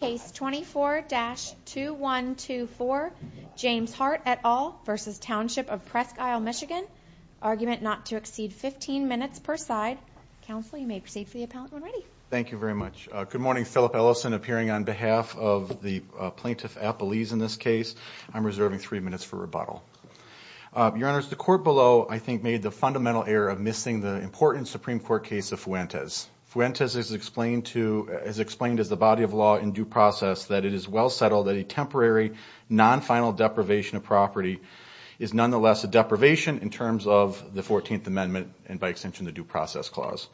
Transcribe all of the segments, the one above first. Case 24-2124, James Hart et al. v. Township of Presque Isle, MI. Argument not to exceed 15 minutes per side. Counsel, you may proceed for the appellant when ready. Thank you very much. Good morning, Philip Ellison, appearing on behalf of the plaintiff, Appalese, in this case. I'm reserving three minutes for rebuttal. Your Honors, the court below, I think, made the fundamental error of missing the important Supreme Court case of Fuentes. Fuentes has explained as the body of law in due process that it is well settled that a temporary, non-final deprivation of property is nonetheless a deprivation in terms of the 14th Amendment and, by extension, the Due Process Clause.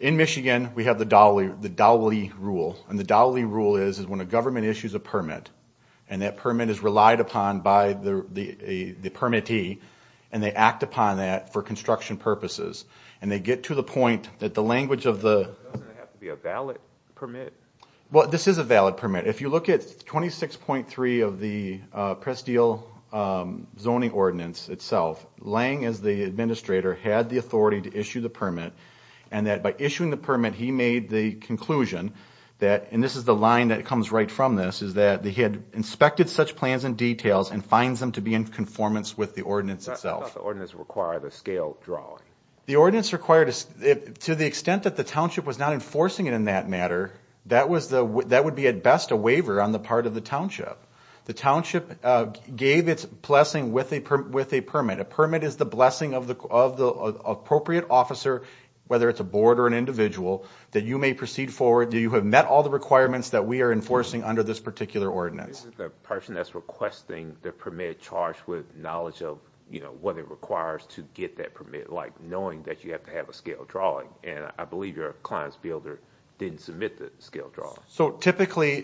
In Michigan, we have the Dawley Rule. And the Dawley Rule is when a government issues a permit, and that permit is relied upon by the permittee, and they act upon that for construction purposes. And they get to the point that the language of the... Doesn't it have to be a valid permit? Well, this is a valid permit. If you look at 26.3 of the Presque Isle Zoning Ordinance itself, Lange, as the administrator, had the authority to issue the permit. And that by issuing the permit, he made the conclusion that, and this is the line that comes right from this, is that he had inspected such plans and details and finds them to be in conformance with the ordinance itself. Does the ordinance require the scale drawing? The ordinance required... To the extent that the township was not enforcing it in that matter, that would be, at best, a waiver on the part of the township. The township gave its blessing with a permit. A permit is the blessing of the appropriate officer, whether it's a board or an individual, that you may proceed forward, that you have met all the requirements that we are enforcing under this particular ordinance. The person that's requesting the permit charged with knowledge of what it requires to get that permit, like knowing that you have to have a scale drawing. And I believe your client's builder didn't submit the scale drawing. So typically,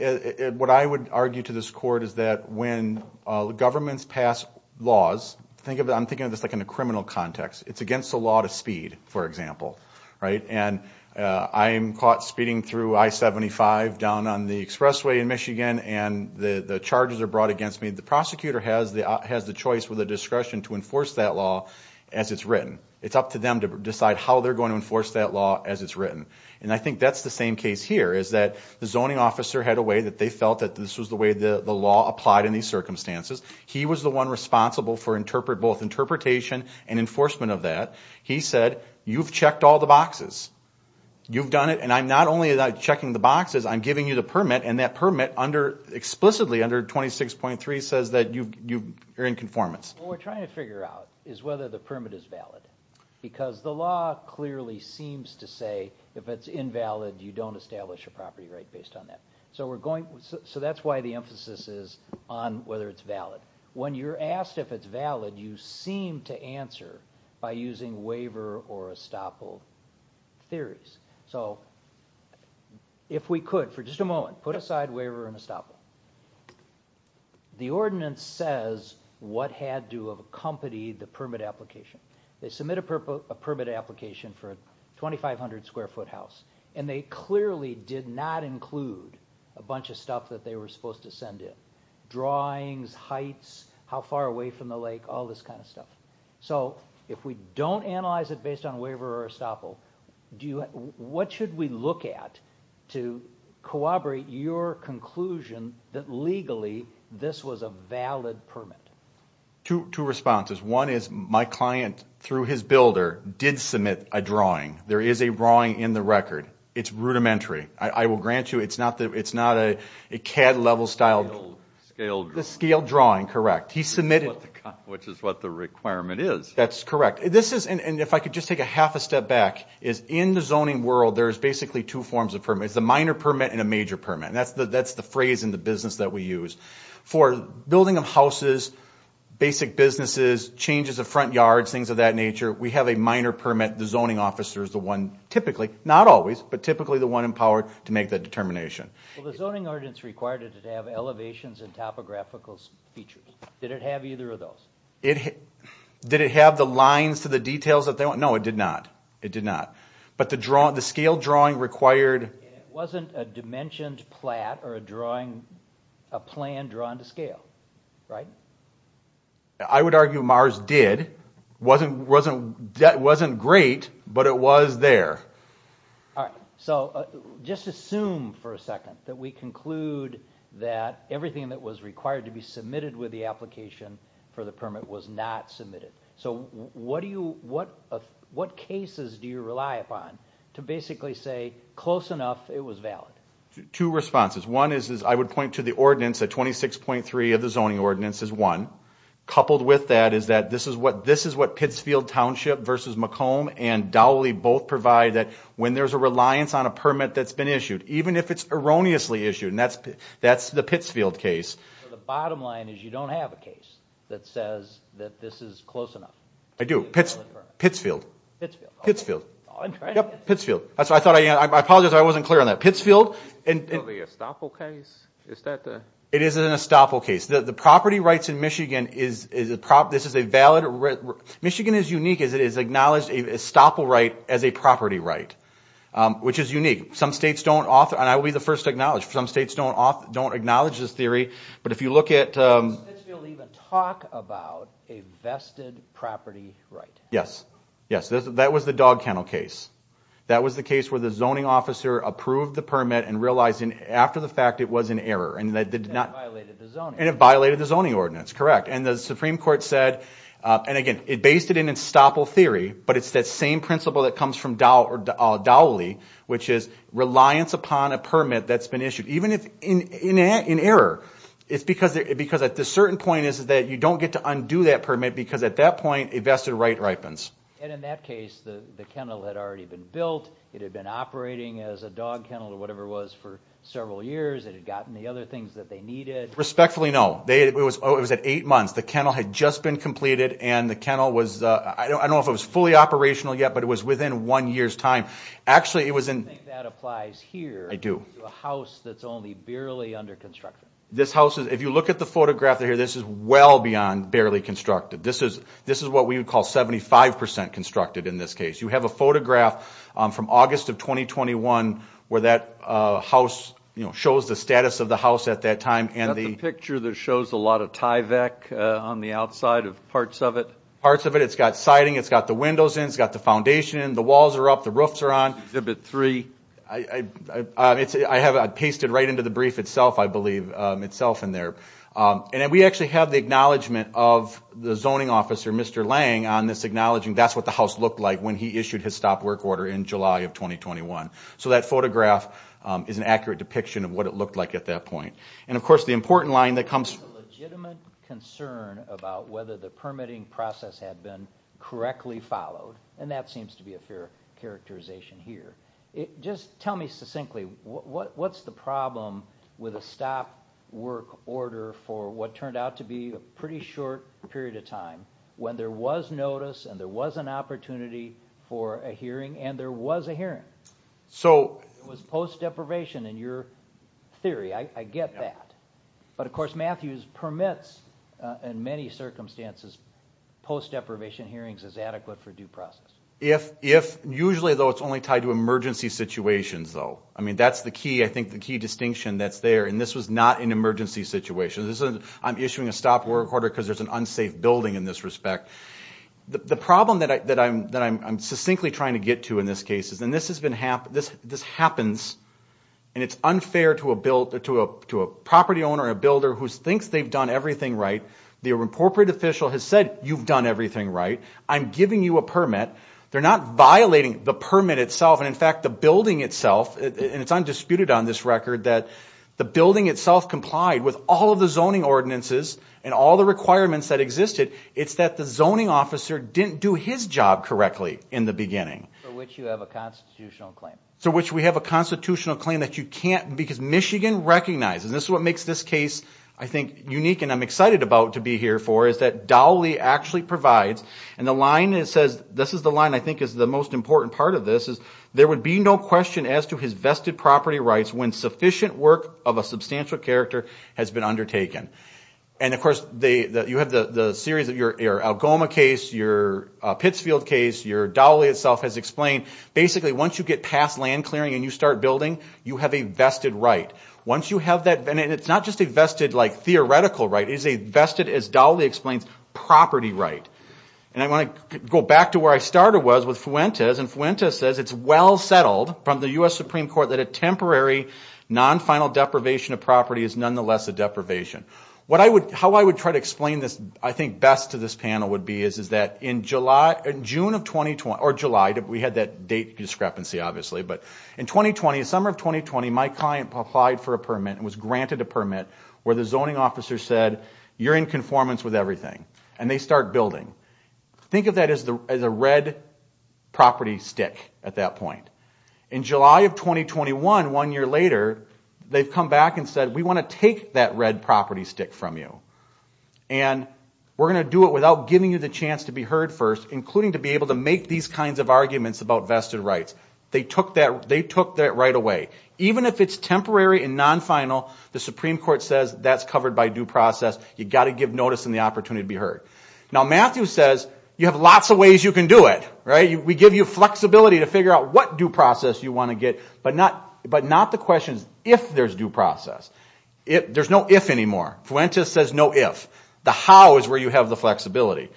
what I would argue to this court is that when governments pass laws, I'm thinking of this like in a criminal context, it's against the law to speed, for example. And I'm caught speeding through I-75 down on the expressway in Michigan, and the charges are brought against me. The prosecutor has the choice, with the discretion, to enforce that law as it's written. It's up to them to decide how they're going to enforce that law as it's written. And I think that's the same case here, is that the zoning officer had a way that they felt that this was the way the law applied in these circumstances. He was the one responsible for both interpretation and enforcement of that. He said, you've checked all the boxes. You've done it, and I'm not only checking the boxes, I'm giving you the permit, and that permit explicitly under 26.3 says that you're in conformance. What we're trying to figure out is whether the permit is valid. Because the law clearly seems to say, if it's invalid, you don't establish a property right based on that. So that's why the emphasis is on whether it's valid. When you're asked if it's valid, you seem to answer by using waiver or estoppel theories. So if we could, for just a moment, put aside waiver and estoppel. The ordinance says what had to have accompanied the permit application. They submit a permit application for a 2,500 square foot house, and they clearly did not include a bunch of stuff that they were supposed to send in. Drawings, heights, how far away from the lake, all this kind of stuff. So if we don't analyze it based on waiver or estoppel, what should we look at to corroborate your conclusion that legally this was a valid permit? Two responses. One is my client, through his builder, did submit a drawing. There is a drawing in the record. It's rudimentary. I will grant you it's not a CAD level style. A scaled drawing. A scaled drawing, correct. He submitted... Which is what the requirement is. That's correct. This is, and if I could just take a half a step back, is in the zoning world, there's basically two forms of permit. There's a minor permit and a major permit. And that's the phrase in the business that we use. For building of houses, basic businesses, changes of front yards, things of that nature, we have a minor permit. The zoning officer is the one, typically, not always, but typically the one empowered to make that determination. The zoning ordinance required it to have elevations and topographical features. Did it have either of those? Did it have the lines to the details? No, it did not. It did not. But the scale drawing required... It wasn't a dimensioned plat or a plan drawn to scale, right? I would argue Mars did. It wasn't great, but it was there. Alright, so just assume for a second that we conclude that everything that was required to be submitted with the application for the permit was not submitted. So what cases do you rely upon to basically say, close enough, it was valid? Two responses. One is, I would point to the ordinance, the 26.3 of the zoning ordinance is one. Coupled with that is that this is what Pittsfield Township versus Macomb and Dowley both provide that when there's a reliance on a permit that's been issued, even if it's erroneously issued, and that's the Pittsfield case. The bottom line is you don't have a case that says that this is close enough. I do. Pittsfield. Pittsfield. Pittsfield. Yep. Pittsfield. I apologize, I wasn't clear on that. Pittsfield... The Estoppel case? Is that the... It is an Estoppel case. The property rights in Michigan, this is a valid... Michigan is unique as it has acknowledged an Estoppel right as a property right, which is unique. Some states don't, and I will be the first to acknowledge, some states don't acknowledge this theory, but if you look at... Did Pittsfield even talk about a vested property right? Yes. Yes, that was the Dogkennel case. That was the case where the zoning officer approved the permit and realized after the fact it was an error. And it violated the zoning ordinance. And it violated the zoning ordinance, correct. And the Supreme Court said, and again, it based it in Estoppel theory, but it's that same principle that comes from Dowley, which is reliance upon a permit that's been issued, even if in error. It's because at a certain point is that you don't get to undo that permit because at that point a vested right ripens. And in that case, the kennel had already been built, it had been operating as a dog kennel or whatever it was for several years, it had gotten the other things that they needed. Respectfully, no. It was at eight months. The kennel had just been completed and the kennel was, I don't know if it was fully operational yet, but it was within one year's time. Actually it was in... I think that applies here. I do. To a house that's only barely under construction. This house is, if you look at the photograph here, this is well beyond barely constructed. This is what we would call 75% constructed in this case. You have a photograph from August of 2021 where that house shows the status of the house at that time and the... Is that the picture that shows a lot of Tyvek on the outside of parts of it? Parts of it. It's got siding, it's got the windows in, it's got the foundation in, the walls are up, the roofs are on. Exhibit three. I pasted right into the brief itself, I believe, itself in there. And we actually have the acknowledgement of the zoning officer, Mr. Lang, on this acknowledging that's what the house looked like when he issued his stop work order in July of 2021. So that photograph is an accurate depiction of what it looked like at that point. And of course the important line that comes... ...legitimate concern about whether the permitting process had been correctly followed. And that seems to be a fair characterization here. Just tell me succinctly, what's the problem with a stop work order for what turned out to be a pretty short period of time... ...when there was notice and there was an opportunity for a hearing and there was a hearing? So... It was post deprivation in your theory, I get that. But of course Matthews permits, in many circumstances, post deprivation hearings as adequate for due process. If usually though it's only tied to emergency situations though. I mean that's the key, I think the key distinction that's there. And this was not an emergency situation. I'm issuing a stop work order because there's an unsafe building in this respect. The problem that I'm succinctly trying to get to in this case is... ...and this happens and it's unfair to a property owner or a builder who thinks they've done everything right. The appropriate official has said you've done everything right. I'm giving you a permit. They're not violating the permit itself and in fact the building itself... ...and it's undisputed on this record that the building itself complied with all of the zoning ordinances... ...and all the requirements that existed. It's that the zoning officer didn't do his job correctly in the beginning. For which you have a constitutional claim. For which we have a constitutional claim that you can't because Michigan recognizes... ...this is what makes this case I think unique and I'm excited about to be here for... ...that Dawley actually provides and the line it says... ...this is the line I think is the most important part of this is... ...there would be no question as to his vested property rights when sufficient work... ...of a substantial character has been undertaken. And of course you have the series of your Algoma case, your Pittsfield case, your Dawley itself has explained... ...basically once you get past land clearing and you start building you have a vested right. Once you have that and it's not just a vested like theoretical right, it's a vested as Dawley explains... ...property right. And I want to go back to where I started was with Fuentes and Fuentes says it's well settled... ...from the U.S. Supreme Court that a temporary non-final deprivation of property is nonetheless a deprivation. How I would try to explain this I think best to this panel would be is that in June of 2020... ...or July, we had that date discrepancy obviously, but in 2020, the summer of 2020... ...my client applied for a permit and was granted a permit where the zoning officer said you're in conformance... ...with everything. And they start building. Think of that as a red property stick at that point. In July of 2021, one year later, they've come back and said we want to take that red property stick from you. And we're going to do it without giving you the chance to be heard first including to be able to make these... ...kinds of arguments about vested rights. They took that right away. Even if it's temporary and non-final, the Supreme Court says that's covered by due process. You've got to give notice and the opportunity to be heard. Now Matthew says you have lots of ways you can do it. We give you flexibility to figure out what due process you want to get, but not the questions if there's due process. There's no if anymore. Fuentes says no if. The how is where you have the flexibility.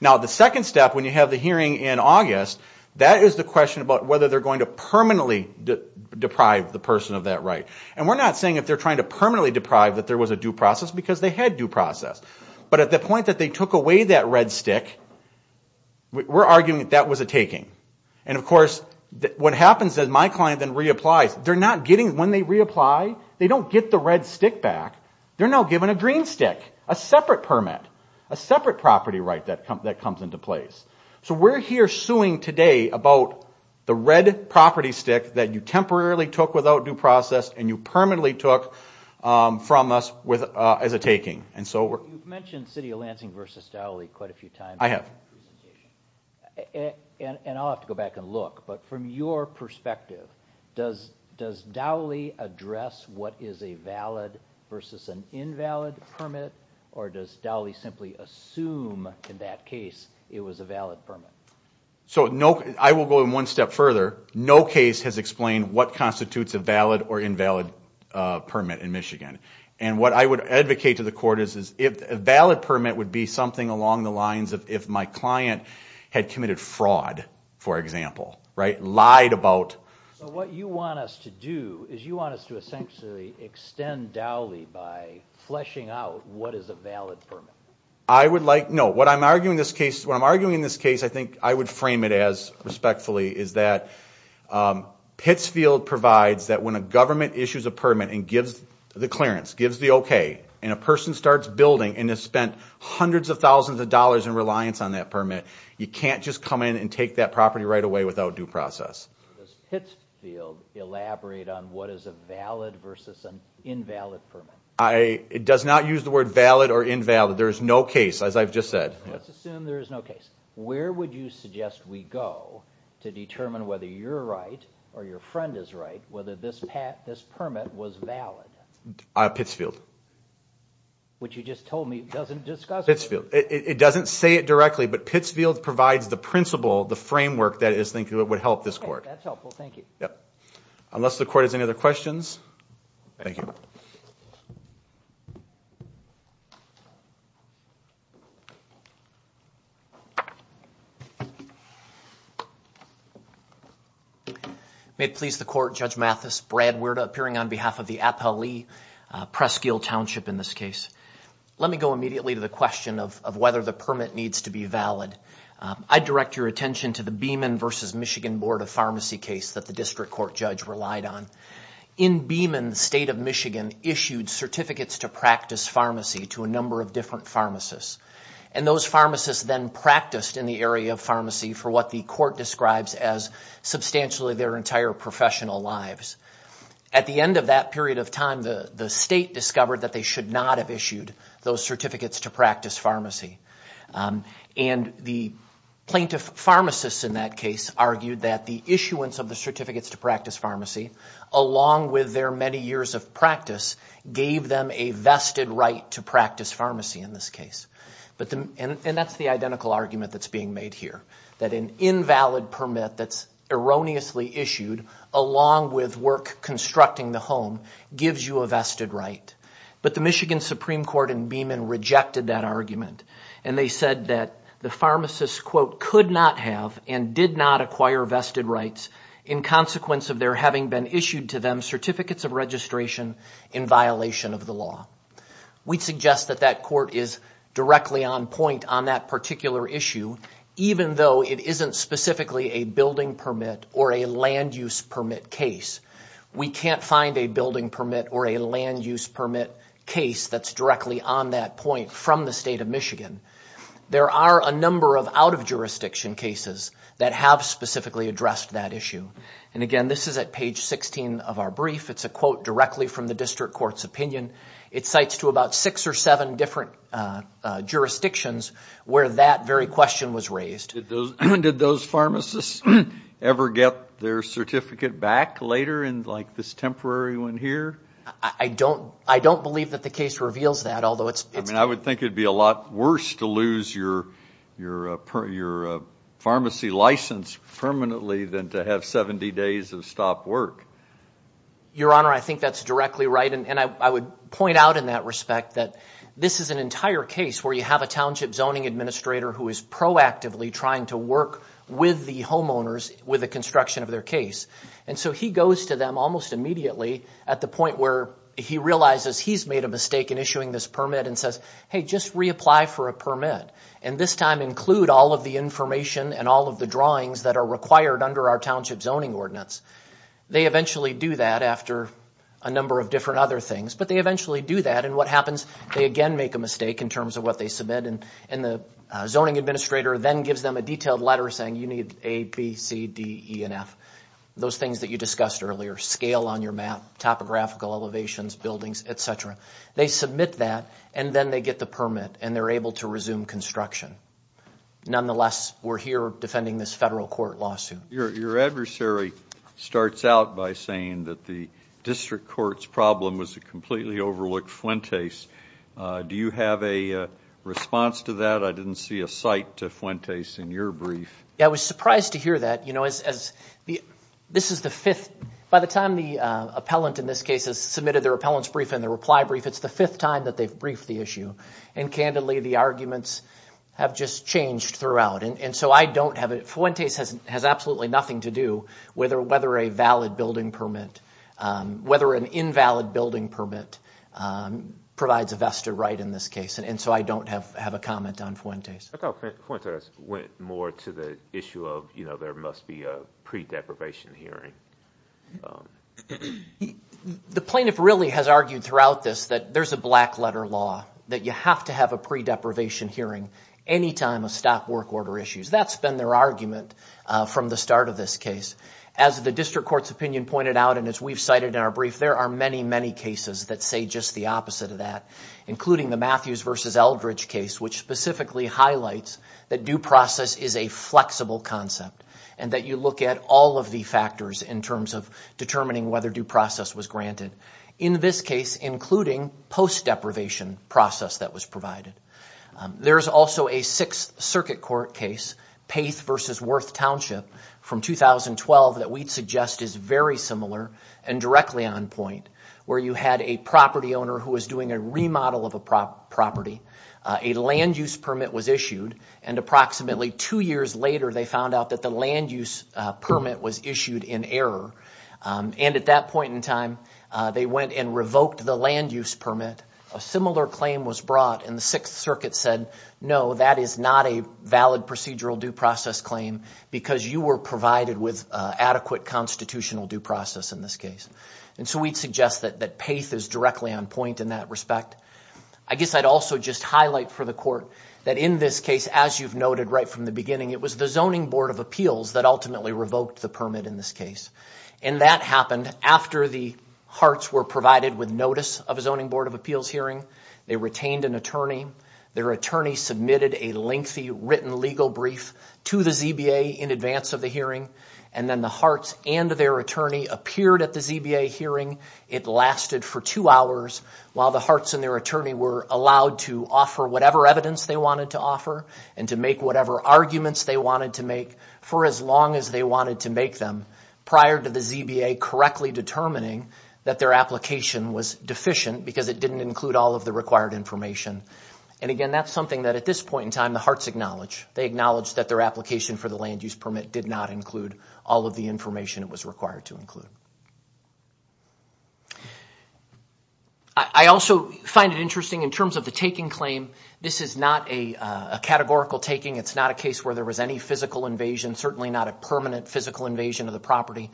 Now the second step when you have the hearing in August, that is the question about whether they're going to... ...permanently deprive the person of that right. And we're not saying if they're trying to permanently deprive that there was a due process because they had due process. But at the point that they took away that red stick, we're arguing that that was a taking. And of course what happens is my client then reapplies. They're not getting, when they reapply, they don't get the red stick back. They're now given a green stick. A separate permit. A separate property right that comes into place. So we're here suing today about the red property stick that you temporarily took without due process... ...and you permanently took from us as a taking. You've mentioned City of Lansing v. Dowley quite a few times. I have. And I'll have to go back and look. But from your perspective, does Dowley address what is a valid versus an invalid permit? Or does Dowley simply assume in that case it was a valid permit? So I will go one step further. No case has explained what constitutes a valid or invalid permit in Michigan. And what I would advocate to the court is if a valid permit would be something along the lines of if my client had committed fraud, for example. Lied about... So what you want us to do is you want us to essentially extend Dowley by fleshing out what is a valid permit. I would like, no, what I'm arguing in this case, what I'm arguing in this case, I think I would frame it as respectfully, is that Pittsfield provides that when a government issues a permit and gives the clearance, gives the okay, and a person starts building and has spent hundreds of thousands of dollars in reliance on that permit, you can't just come in and take that property right away without due process. Does Pittsfield elaborate on what is a valid versus an invalid permit? It does not use the word valid or invalid. There is no case, as I've just said. Let's assume there is no case. Where would you suggest we go to determine whether you're right or your friend is right, whether this permit was valid? Pittsfield. Which you just told me doesn't discuss... Pittsfield. It doesn't say it directly, but Pittsfield provides the principle, the framework that is thinking that would help this court. Okay. That's helpful. Thank you. Yep. Unless the court has any other questions. Thank you. May it please the court, Judge Mathis, Brad Wirta, appearing on behalf of the Appali Presque Hill Township in this case. Let me go immediately to the question of whether the permit needs to be valid. I direct your attention to the Beeman versus Michigan Board of Pharmacy case that the district court judge relied on. In Beeman, the state of Michigan issued certificates to practice pharmacy to a number of different pharmacists. And those pharmacists then practiced in the area of pharmacy for what the court describes as substantially their entire professional lives. At the end of that period of time, the state discovered that they should not have issued those certificates to practice pharmacy. And the plaintiff pharmacists in that case argued that the issuance of the certificates to practice pharmacy, along with their many years of practice, gave them a vested right to practice pharmacy in this case. And that's the identical argument that's being made here. That an invalid permit that's erroneously issued, along with work constructing the home, gives you a vested right. But the Michigan Supreme Court in Beeman rejected that argument. And they said that the pharmacist, quote, could not have and did not acquire vested rights in consequence of there having been issued to them certificates of registration in violation of the law. We suggest that that court is directly on point on that particular issue, even though it isn't specifically a building permit or a land use permit case. We can't find a building permit or a land use permit case that's directly on that point from the state of Michigan. There are a number of out-of-jurisdiction cases that have specifically addressed that issue. And again, this is at page 16 of our brief. It's a quote directly from the district court's opinion. It cites to about six or seven different jurisdictions where that very question was raised. Did those pharmacists ever get their certificate back later in, like, this temporary one here? I don't believe that the case reveals that, although it's – I mean, I would think it would be a lot worse to lose your pharmacy license permanently than to have 70 days of stopped work. Your Honor, I think that's directly right, and I would point out in that respect that this is an entire case where you have a township zoning administrator who is proactively trying to work with the homeowners with the construction of their case. And so he goes to them almost immediately at the point where he realizes he's made a mistake in issuing this permit and says, hey, just reapply for a permit, and this time include all of the information and all of the drawings that are required under our township zoning ordinance. They eventually do that after a number of different other things, but they eventually do that, and what happens? They again make a mistake in terms of what they submit, and the zoning administrator then gives them a detailed letter saying you need A, B, C, D, E, and F, those things that you discussed earlier, scale on your map, topographical elevations, buildings, et cetera. They submit that, and then they get the permit, and they're able to resume construction. Nonetheless, we're here defending this federal court lawsuit. Your adversary starts out by saying that the district court's problem was a completely overlooked Fuentes. Do you have a response to that? I didn't see a cite to Fuentes in your brief. I was surprised to hear that. By the time the appellant in this case has submitted their appellant's brief and their reply brief, it's the fifth time that they've briefed the issue, and candidly, the arguments have just changed throughout. Fuentes has absolutely nothing to do with whether a valid building permit, whether an invalid building permit provides a vested right in this case, and so I don't have a comment on Fuentes. I thought Fuentes went more to the issue of there must be a pre-deprivation hearing. The plaintiff really has argued throughout this that there's a black letter law, that you have to have a pre-deprivation hearing any time a stock work order issues. That's been their argument from the start of this case. As the district court's opinion pointed out, and as we've cited in our brief, there are many, many cases that say just the opposite of that, including the Matthews v. Eldridge case, which specifically highlights that due process is a flexible concept and that you look at all of the factors in terms of determining whether due process was granted. In this case, including post-deprivation process that was provided. There's also a Sixth Circuit Court case, Paith v. Worth Township, from 2012, that we'd suggest is very similar and directly on point, where you had a property owner who was doing a remodel of a property. A land use permit was issued, and approximately two years later, they found out that the land use permit was issued in error, and at that point in time, they went and revoked the land use permit. A similar claim was brought, and the Sixth Circuit said, no, that is not a valid procedural due process claim because you were provided with adequate constitutional due process in this case. And so we'd suggest that Paith is directly on point in that respect. I guess I'd also just highlight for the court that in this case, as you've noted right from the beginning, it was the Zoning Board of Appeals that ultimately revoked the permit in this case. And that happened after the Harts were provided with notice of a Zoning Board of Appeals hearing. They retained an attorney. Their attorney submitted a lengthy written legal brief to the ZBA in advance of the hearing, and then the Harts and their attorney appeared at the ZBA hearing. It lasted for two hours while the Harts and their attorney were allowed to offer whatever evidence they wanted to offer and to make whatever arguments they wanted to make for as long as they wanted to make them prior to the ZBA correctly determining that their application was deficient because it didn't include all of the required information. And again, that's something that at this point in time, the Harts acknowledge. They acknowledge that their application for the land use permit did not include all of the information it was required to include. I also find it interesting in terms of the taking claim. This is not a categorical taking. It's not a case where there was any physical invasion, certainly not a permanent physical invasion of the property.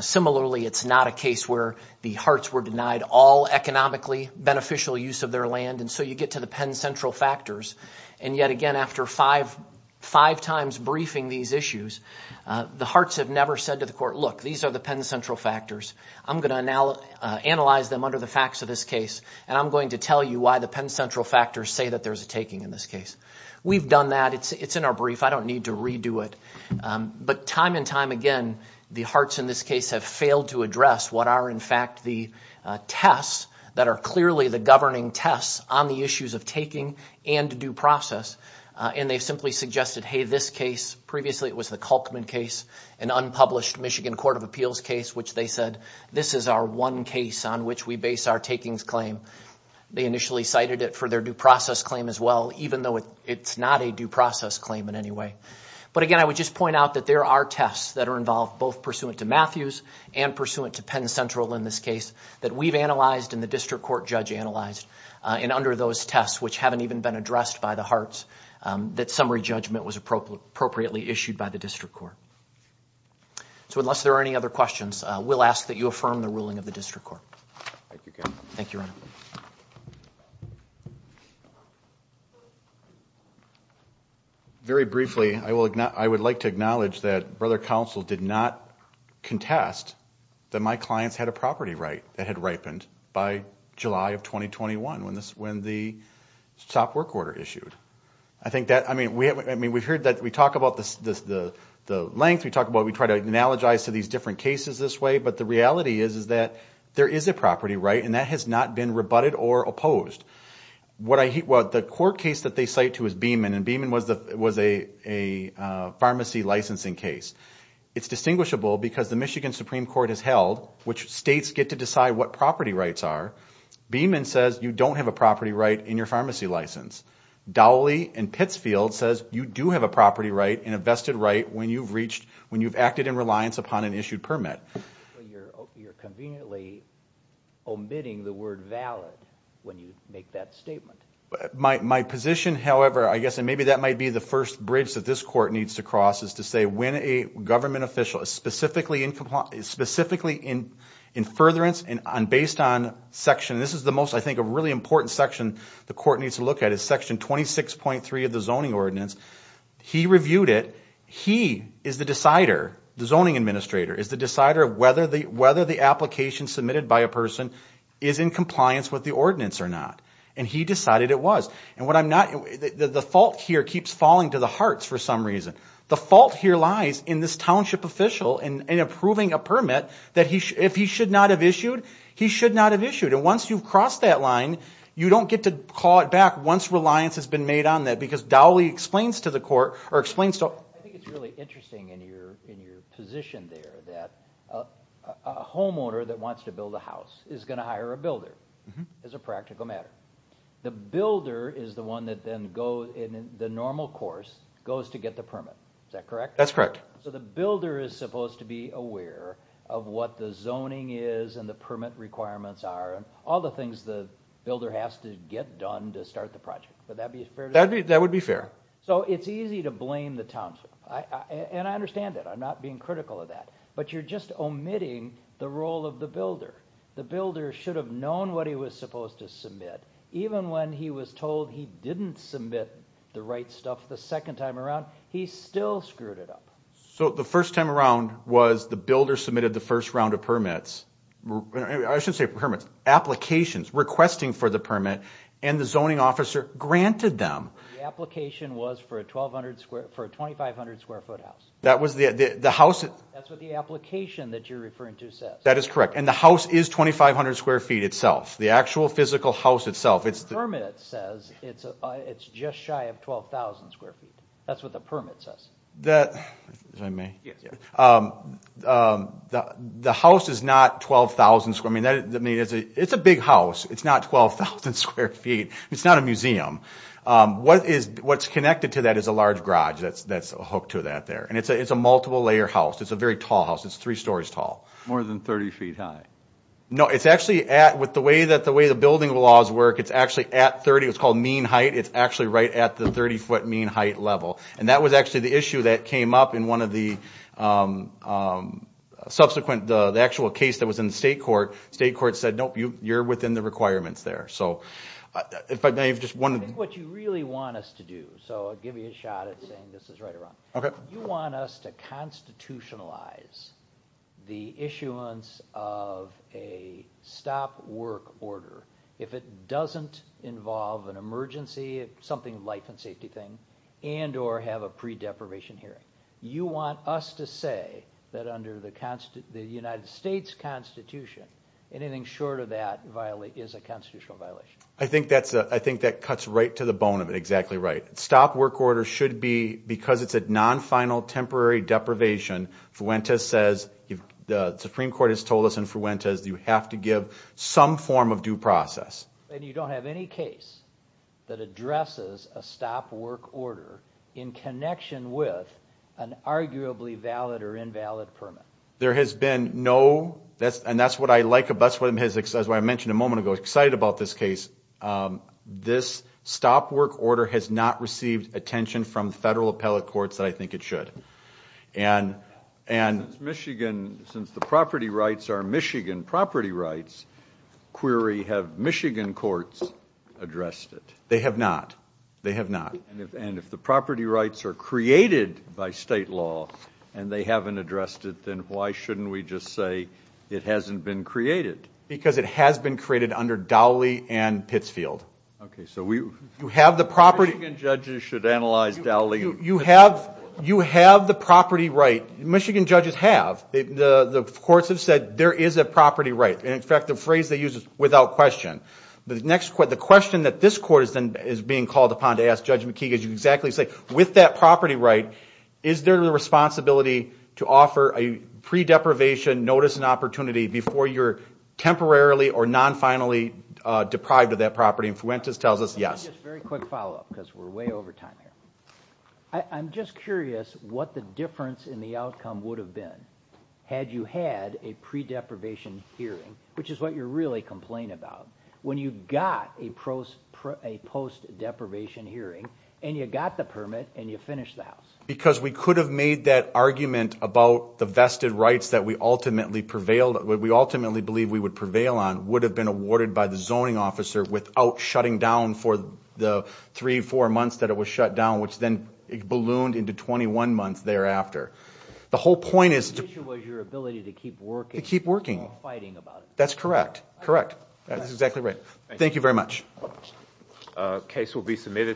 Similarly, it's not a case where the Harts were denied all economically beneficial use of their land. And so you get to the Penn Central factors. And yet again, after five times briefing these issues, the Harts have never said to the court, look, these are the Penn Central factors. I'm going to analyze them under the facts of this case, and I'm going to tell you why the Penn Central factors say that there's a taking in this case. We've done that. It's in our brief. I don't need to redo it. But time and time again, the Harts in this case have failed to address what are, in fact, the tests that are clearly the governing tests on the issues of taking and due process. And they've simply suggested, hey, this case, previously it was the Kalkman case, an unpublished Michigan Court of Appeals case, which they said, this is our one case on which we base our takings claim. They initially cited it for their due process claim as well, even though it's not a due process claim in any way. But again, I would just point out that there are tests that are involved, both pursuant to Matthews and pursuant to Penn Central in this case, that we've analyzed and the district court judge analyzed. And under those tests, which haven't even been addressed by the Harts, that summary judgment was appropriately issued by the district court. So unless there are any other questions, we'll ask that you affirm the ruling of the district court. Thank you, Kevin. Thank you, Ronald. Very briefly, I would like to acknowledge that Brother Counsel did not contest that my clients had a property right that had ripened by July of 2021 when the SOP work order issued. I mean, we've heard that we talk about the length, we talk about we try to analogize to these different cases this way, but the reality is that there is a property right, and that has not been rebutted or opposed. The court case that they cite to is Beamon, and Beamon was a pharmacy licensing case. It's distinguishable because the Michigan Supreme Court has held, which states get to decide what property rights are, Beamon says you don't have a property right in your pharmacy license. Dowley and Pittsfield says you do have a property right and a vested right when you've acted in reliance upon an issued permit. You're conveniently omitting the word valid when you make that statement. My position, however, I guess, and maybe that might be the first bridge that this court needs to cross, is to say when a government official is specifically in furtherance and based on section, this is the most, I think, a really important section the court needs to look at is section 26.3 of the zoning ordinance, he reviewed it. He is the decider, the zoning administrator, is the decider of whether the application submitted by a person is in compliance with the ordinance or not, and he decided it was. The fault here keeps falling to the hearts for some reason. The fault here lies in this township official in approving a permit that if he should not have issued, he should not have issued. Once you've crossed that line, you don't get to call it back once reliance has been made on that because Dowley explains to the court. I think it's really interesting in your position there that a homeowner that wants to build a house is going to hire a builder as a practical matter. The builder is the one that then goes in the normal course, goes to get the permit. Is that correct? That's correct. The builder is supposed to be aware of what the zoning is and the permit requirements are and all the things the builder has to get done to start the project. Would that be fair to say? That would be fair. It's easy to blame the township, and I understand that. I'm not being critical of that, but you're just omitting the role of the builder. The builder should have known what he was supposed to submit. Even when he was told he didn't submit the right stuff the second time around, he still screwed it up. So the first time around was the builder submitted the first round of permits. I should say permits, applications requesting for the permit, and the zoning officer granted them. The application was for a 2,500-square-foot house. That's what the application that you're referring to says. That is correct, and the house is 2,500 square feet itself. The actual physical house itself. The permit says it's just shy of 12,000 square feet. That's what the permit says. The house is not 12,000 square feet. It's a big house. It's not 12,000 square feet. It's not a museum. What's connected to that is a large garage that's hooked to that there, and it's a multiple-layer house. It's a very tall house. It's three stories tall. More than 30 feet high. No, it's actually at, with the way the building laws work, it's actually at 30. It's called mean height. It's actually right at the 30-foot mean height level, and that was actually the issue that came up in one of the subsequent, the actual case that was in the state court. The state court said, nope, you're within the requirements there. So if I may have just wondered. That's what you really want us to do, so I'll give you a shot at saying this is right or wrong. Okay. You want us to constitutionalize the issuance of a stop work order. If it doesn't involve an emergency, something life and safety thing, and or have a pre-deprivation hearing. You want us to say that under the United States Constitution, anything short of that is a constitutional violation. I think that cuts right to the bone of it. Exactly right. Stop work order should be, because it's a non-final temporary deprivation, Fuentes says, the Supreme Court has told us in Fuentes, you have to give some form of due process. And you don't have any case that addresses a stop work order in connection with an arguably valid or invalid permit. There has been no, and that's what I like, that's what I mentioned a moment ago, excited about this case. This stop work order has not received attention from federal appellate courts that I think it should. Since Michigan, since the property rights are Michigan property rights, query, have Michigan courts addressed it? They have not. They have not. And if the property rights are created by state law, and they haven't addressed it, then why shouldn't we just say, it hasn't been created? Because it has been created under Dowley and Pittsfield. Okay, so you have the property. Michigan judges should analyze Dowley and Pittsfield. You have the property right. Michigan judges have. The courts have said there is a property right. And, in fact, the phrase they use is without question. The question that this court is being called upon to ask Judge McKee, as you exactly say, with that property right, is there a responsibility to offer a pre-deprivation notice and opportunity before you're temporarily or non-finally deprived of that property? And Fuentes tells us, yes. Just a very quick follow-up because we're way over time here. I'm just curious what the difference in the outcome would have been had you had a pre-deprivation hearing, which is what you're really complaining about, when you got a post-deprivation hearing, and you got the permit, and you finished the house. Because we could have made that argument about the vested rights that we ultimately believe we would prevail on would have been awarded by the zoning officer without shutting down for the three, four months that it was shut down, which then ballooned into 21 months thereafter. The whole point is to keep working. That's correct. Correct. That's exactly right. Thank you very much.